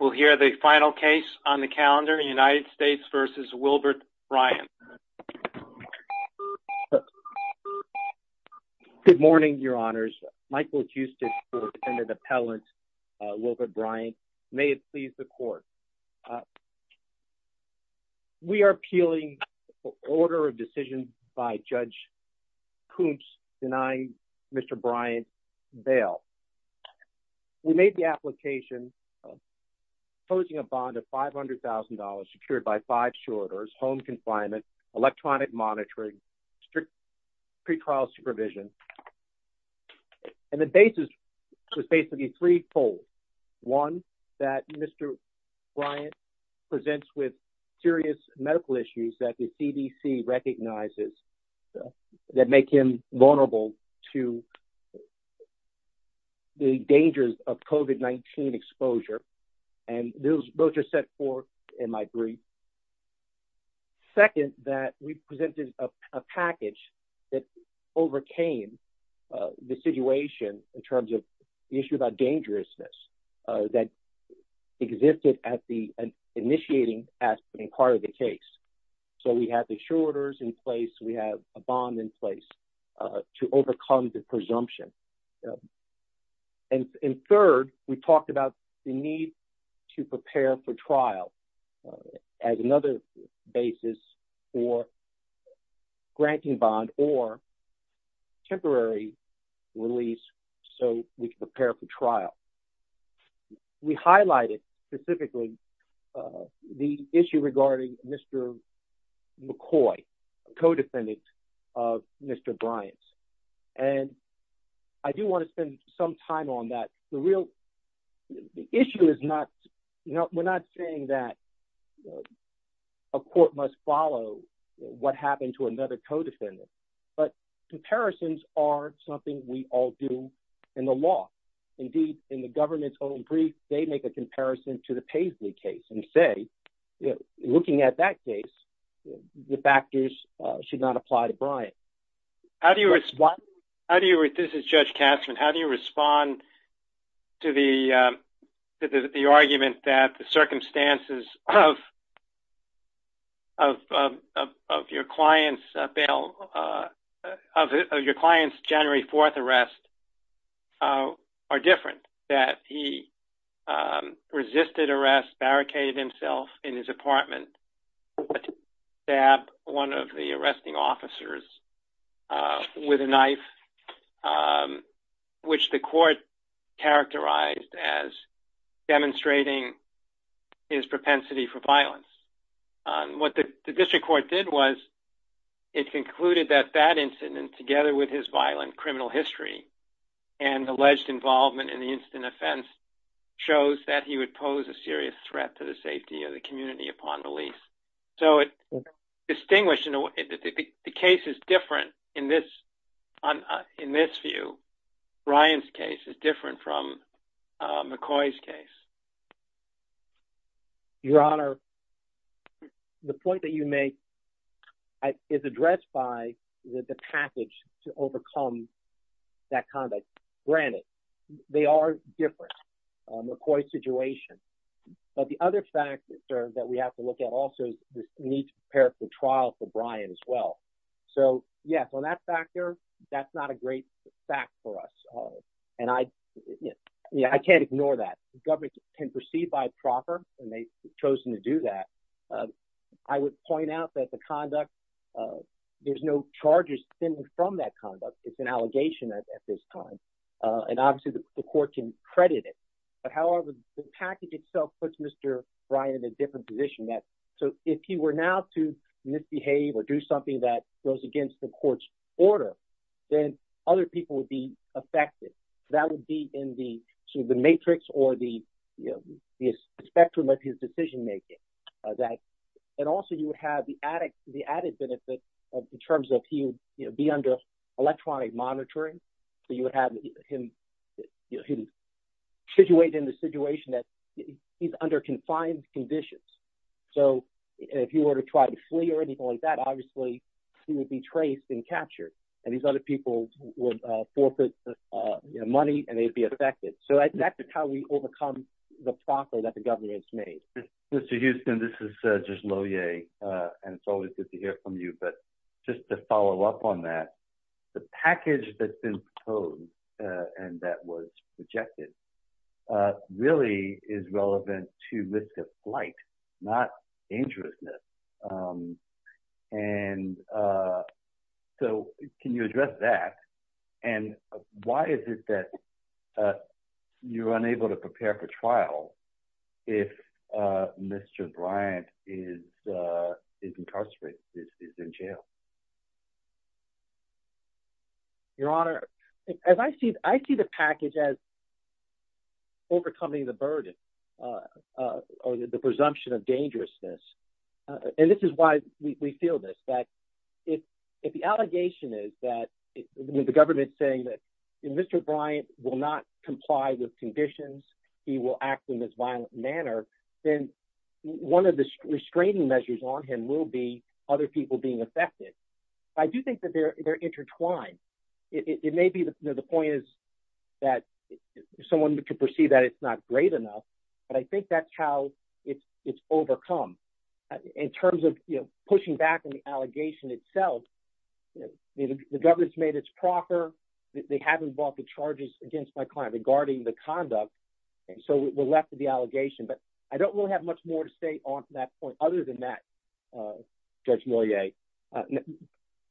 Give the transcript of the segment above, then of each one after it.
We'll hear the final case on the calendar, United States v. Wilbert Bryant. Good morning, your honors. Michael Huston for the defendant appellant, Wilbert Bryant. May it please the court. We are appealing the order of decision by Judge Koontz denying Mr. Bryant's bail. We made the application proposing a bond of $500,000 secured by five shorters, home confinement, electronic monitoring, strict pre-trial supervision. And the basis was basically three folds. One, that Mr. Bryant presents with serious medical issues that the CDC recognizes that make him vulnerable to the dangers of COVID-19 exposure. And those both are set forth in my brief. Second, that we presented a package that overcame the situation in terms of the issue about dangerousness that existed at the initiating part of the case. So we have the shorters in place, we have a bond in place to overcome the presumption. And third, we talked about the need to prepare for trial as another basis for granting bond or temporary release so we can prepare for trial. We highlighted specifically the issue regarding Mr. McCoy, co-defendant of Mr. Bryant. And I do want to spend some time on that. The issue is not, we're not saying that a court must follow what happened to another co-defendant. But comparisons are something we all do in the law. Indeed, in the government's own brief, they make a comparison to the Paisley case and say, looking at that case, the factors should not apply to Bryant. How do you respond? This is Judge Castron. How do you respond to the argument that the circumstances of your client's bail, of your client's January 4th arrest are different? The court concluded that he resisted arrest, barricaded himself in his apartment, stabbed one of the arresting officers with a knife, which the court characterized as demonstrating his propensity for violence. What the district court did was it concluded that that incident, together with his violent criminal history and alleged involvement in the incident offense, shows that he would pose a serious threat to the safety of the community upon release. So the case is different in this view. Bryant's case is different from McCoy's case. Your Honor, the point that you make is addressed by the package to overcome that conduct. Granted, they are different, McCoy's situation. But the other factor that we have to look at also is the need to prepare for trial for Bryant as well. On that factor, that's not a great fact for us. I can't ignore that. The government can proceed by a proffer, and they've chosen to do that. I would point out that there's no charges stemming from that conduct. It's an allegation at this time. Obviously, the court can credit it. However, the package itself puts Mr. Bryant in a different position. If he were now to misbehave or do something that goes against the court's order, then other people would be affected. That would be in the matrix or the spectrum of his decision-making. Also, you would have the added benefit in terms of he would be under electronic monitoring. You would have him situated in the situation that he's under confined conditions. If he were to try to flee or anything like that, obviously, he would be traced and captured. These other people would forfeit money, and they'd be affected. That's how we overcome the proffer that the government has made. Mr. Huston, this is just Loehr, and it's always good to hear from you. Just to follow up on that, the package that's been proposed and that was rejected really is relevant to risk of flight, not dangerousness. Can you address that, and why is it that you're unable to prepare for trial if Mr. Bryant is incarcerated, is in jail? Your Honor, I see the package as overcoming the burden or the presumption of dangerousness. This is why we feel this, that if the allegation is that the government is saying that Mr. Bryant will not comply with conditions, he will act in this violent manner, then one of the restraining measures on him will be other people being affected. I do think that they're intertwined. It may be that the point is that someone could perceive that it's not great enough, but I think that's how it's overcome. In terms of pushing back on the allegation itself, the government's made its proffer. They haven't brought the charges against my client regarding the conduct, and so we're left with the allegation. But I don't really have much more to say on that point other than that, Judge Moyet.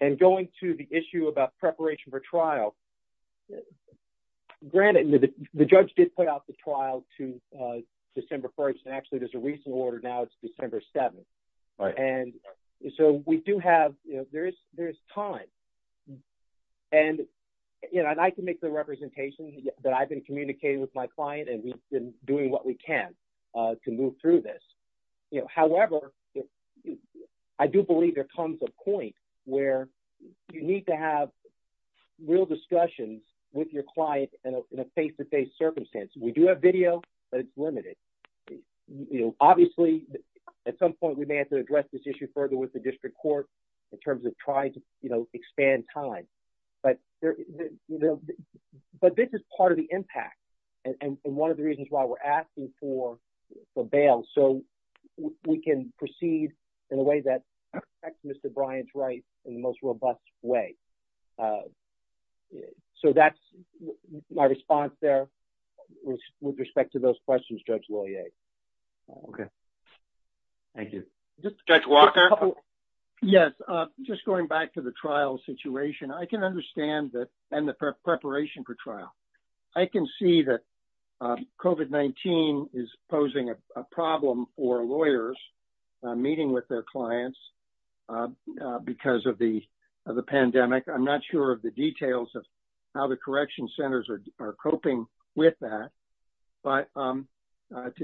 And going to the issue about preparation for trial, granted, the judge did put out the trial to December 1st, and actually there's a recent order now, it's December 7th. And so we do have, there is time. And I can make the representation that I've been communicating with my client, and we've been doing what we can to move through this. However, I do believe there comes a point where you need to have real discussions with your client in a face-to-face circumstance. We do have video, but it's limited. Obviously, at some point, we may have to address this issue further with the district court in terms of trying to expand time. But this is part of the impact and one of the reasons why we're asking for the bail so we can proceed in a way that protects Mr. Bryant's rights in the most robust way. So that's my response there with respect to those questions, Judge Moyet. Okay. Thank you. Judge Walker? Yes, just going back to the trial situation, I can understand that, and the preparation for trial. I can see that COVID-19 is posing a problem for lawyers meeting with their clients because of the pandemic. I'm not sure of the details of how the correction centers are coping with that. But to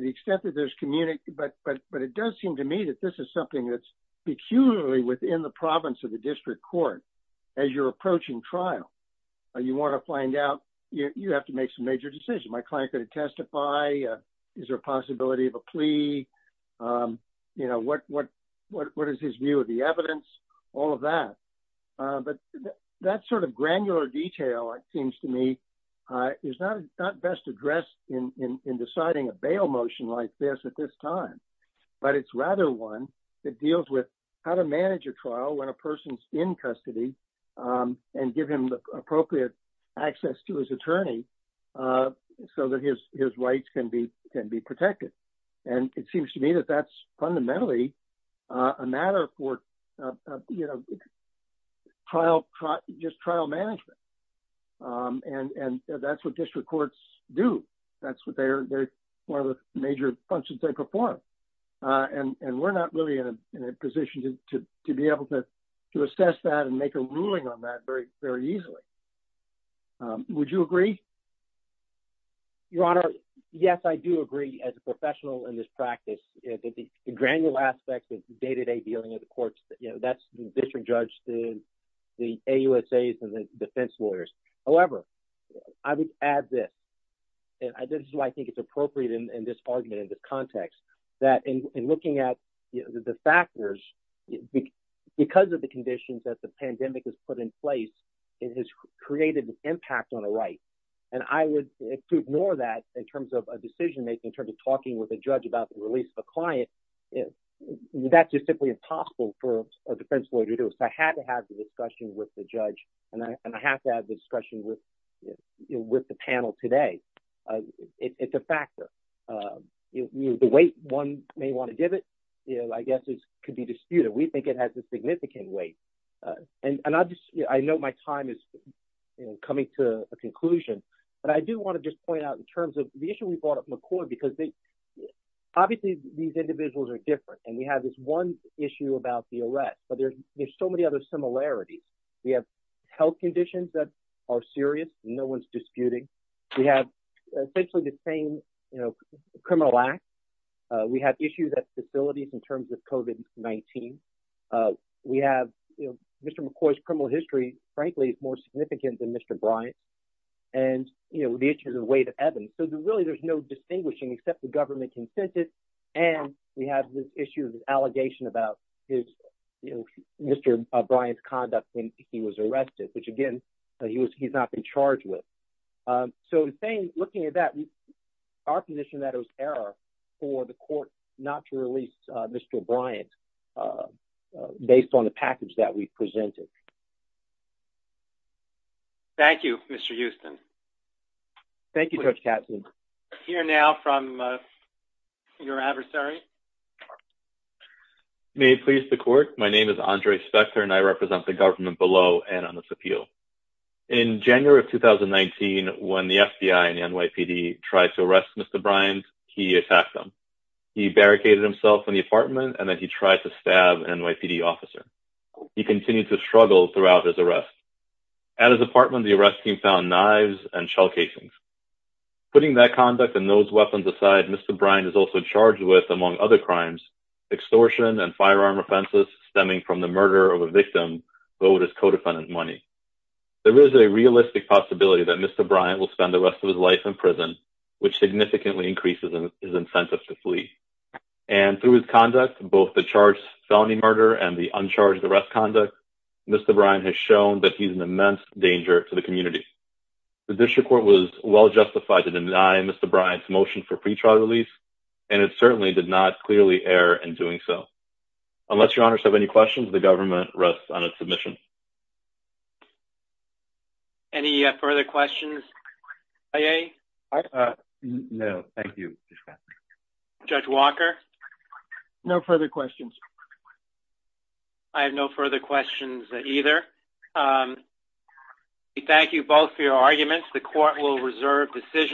the extent that there's community, but it does seem to me that this is something that's peculiarly within the province of the district court as you're approaching trial. You want to find out, you have to make some major decisions. My client could testify. Is there a possibility of a plea? What is his view of the evidence? All of that. But that sort of granular detail, it seems to me, is not best addressed in deciding a bail motion like this at this time. But it's rather one that deals with how to manage a trial when a person's in custody and give him the appropriate access to his attorney so that his rights can be protected. And it seems to me that that's fundamentally a matter for just trial management. And that's what district courts do. That's one of the major functions they perform. And we're not really in a position to be able to assess that and make a ruling on that very easily. Would you agree? Your Honor, yes, I do agree as a professional in this practice. The granular aspect of day-to-day dealing of the courts, that's the district judge, the AUSAs, and the defense lawyers. However, I would add this, and this is why I think it's appropriate in this argument, in this context, that in looking at the factors, because of the conditions that the pandemic has put in place, it has created an impact on the right. And to ignore that in terms of a decision-making, in terms of talking with a judge about the release of a client, that's just simply impossible for a defense lawyer to do. So I had to have the discussion with the judge, and I have to have the discussion with the panel today. It's a factor. The weight one may want to give it, I guess, could be disputed. We think it has a significant weight. And I know my time is coming to a conclusion, but I do want to just point out in terms of the issue we brought up, McCoy, because obviously these individuals are different. And we have this one issue about the arrest, but there's so many other similarities. We have health conditions that are serious, no one's disputing. We have essentially the same criminal acts. We have issues at facilities in terms of COVID-19. We have Mr. McCoy's criminal history, frankly, is more significant than Mr. Bryant's, and the issue of the weight of evidence. So really there's no distinguishing except the government consensus, and we have the issue of the allegation about Mr. Bryant's conduct when he was arrested, which, again, he's not been charged with. So looking at that, our position is that it was error for the court not to release Mr. Bryant based on the package that we've presented. Thank you, Mr. Houston. Thank you, Judge Katzen. We'll hear now from your adversary. May it please the court, my name is Andre Spector, and I represent the government below and on this appeal. In January of 2019, when the FBI and the NYPD tried to arrest Mr. Bryant, he attacked them. He barricaded himself in the apartment, and then he tried to stab an NYPD officer. He continued to struggle throughout his arrest. At his apartment, the arrest team found knives and shell casings. Putting that conduct and those weapons aside, Mr. Bryant is also charged with, among other crimes, extortion and firearm offenses stemming from the murder of a victim, though it is co-defendant money. There is a realistic possibility that Mr. Bryant will spend the rest of his life in prison, which significantly increases his incentive to flee. And through his conduct, both the charged felony murder and the uncharged arrest conduct, Mr. Bryant has shown that he's an immense danger to the community. The district court was well justified to deny Mr. Bryant's motion for pre-trial release, and it certainly did not clearly err in doing so. Unless your honors have any questions, the government rests on its submission. Any further questions? No, thank you, Judge Katzen. Judge Walker? No further questions. I have no further questions either. We thank you both for your arguments. The court will reserve decisions.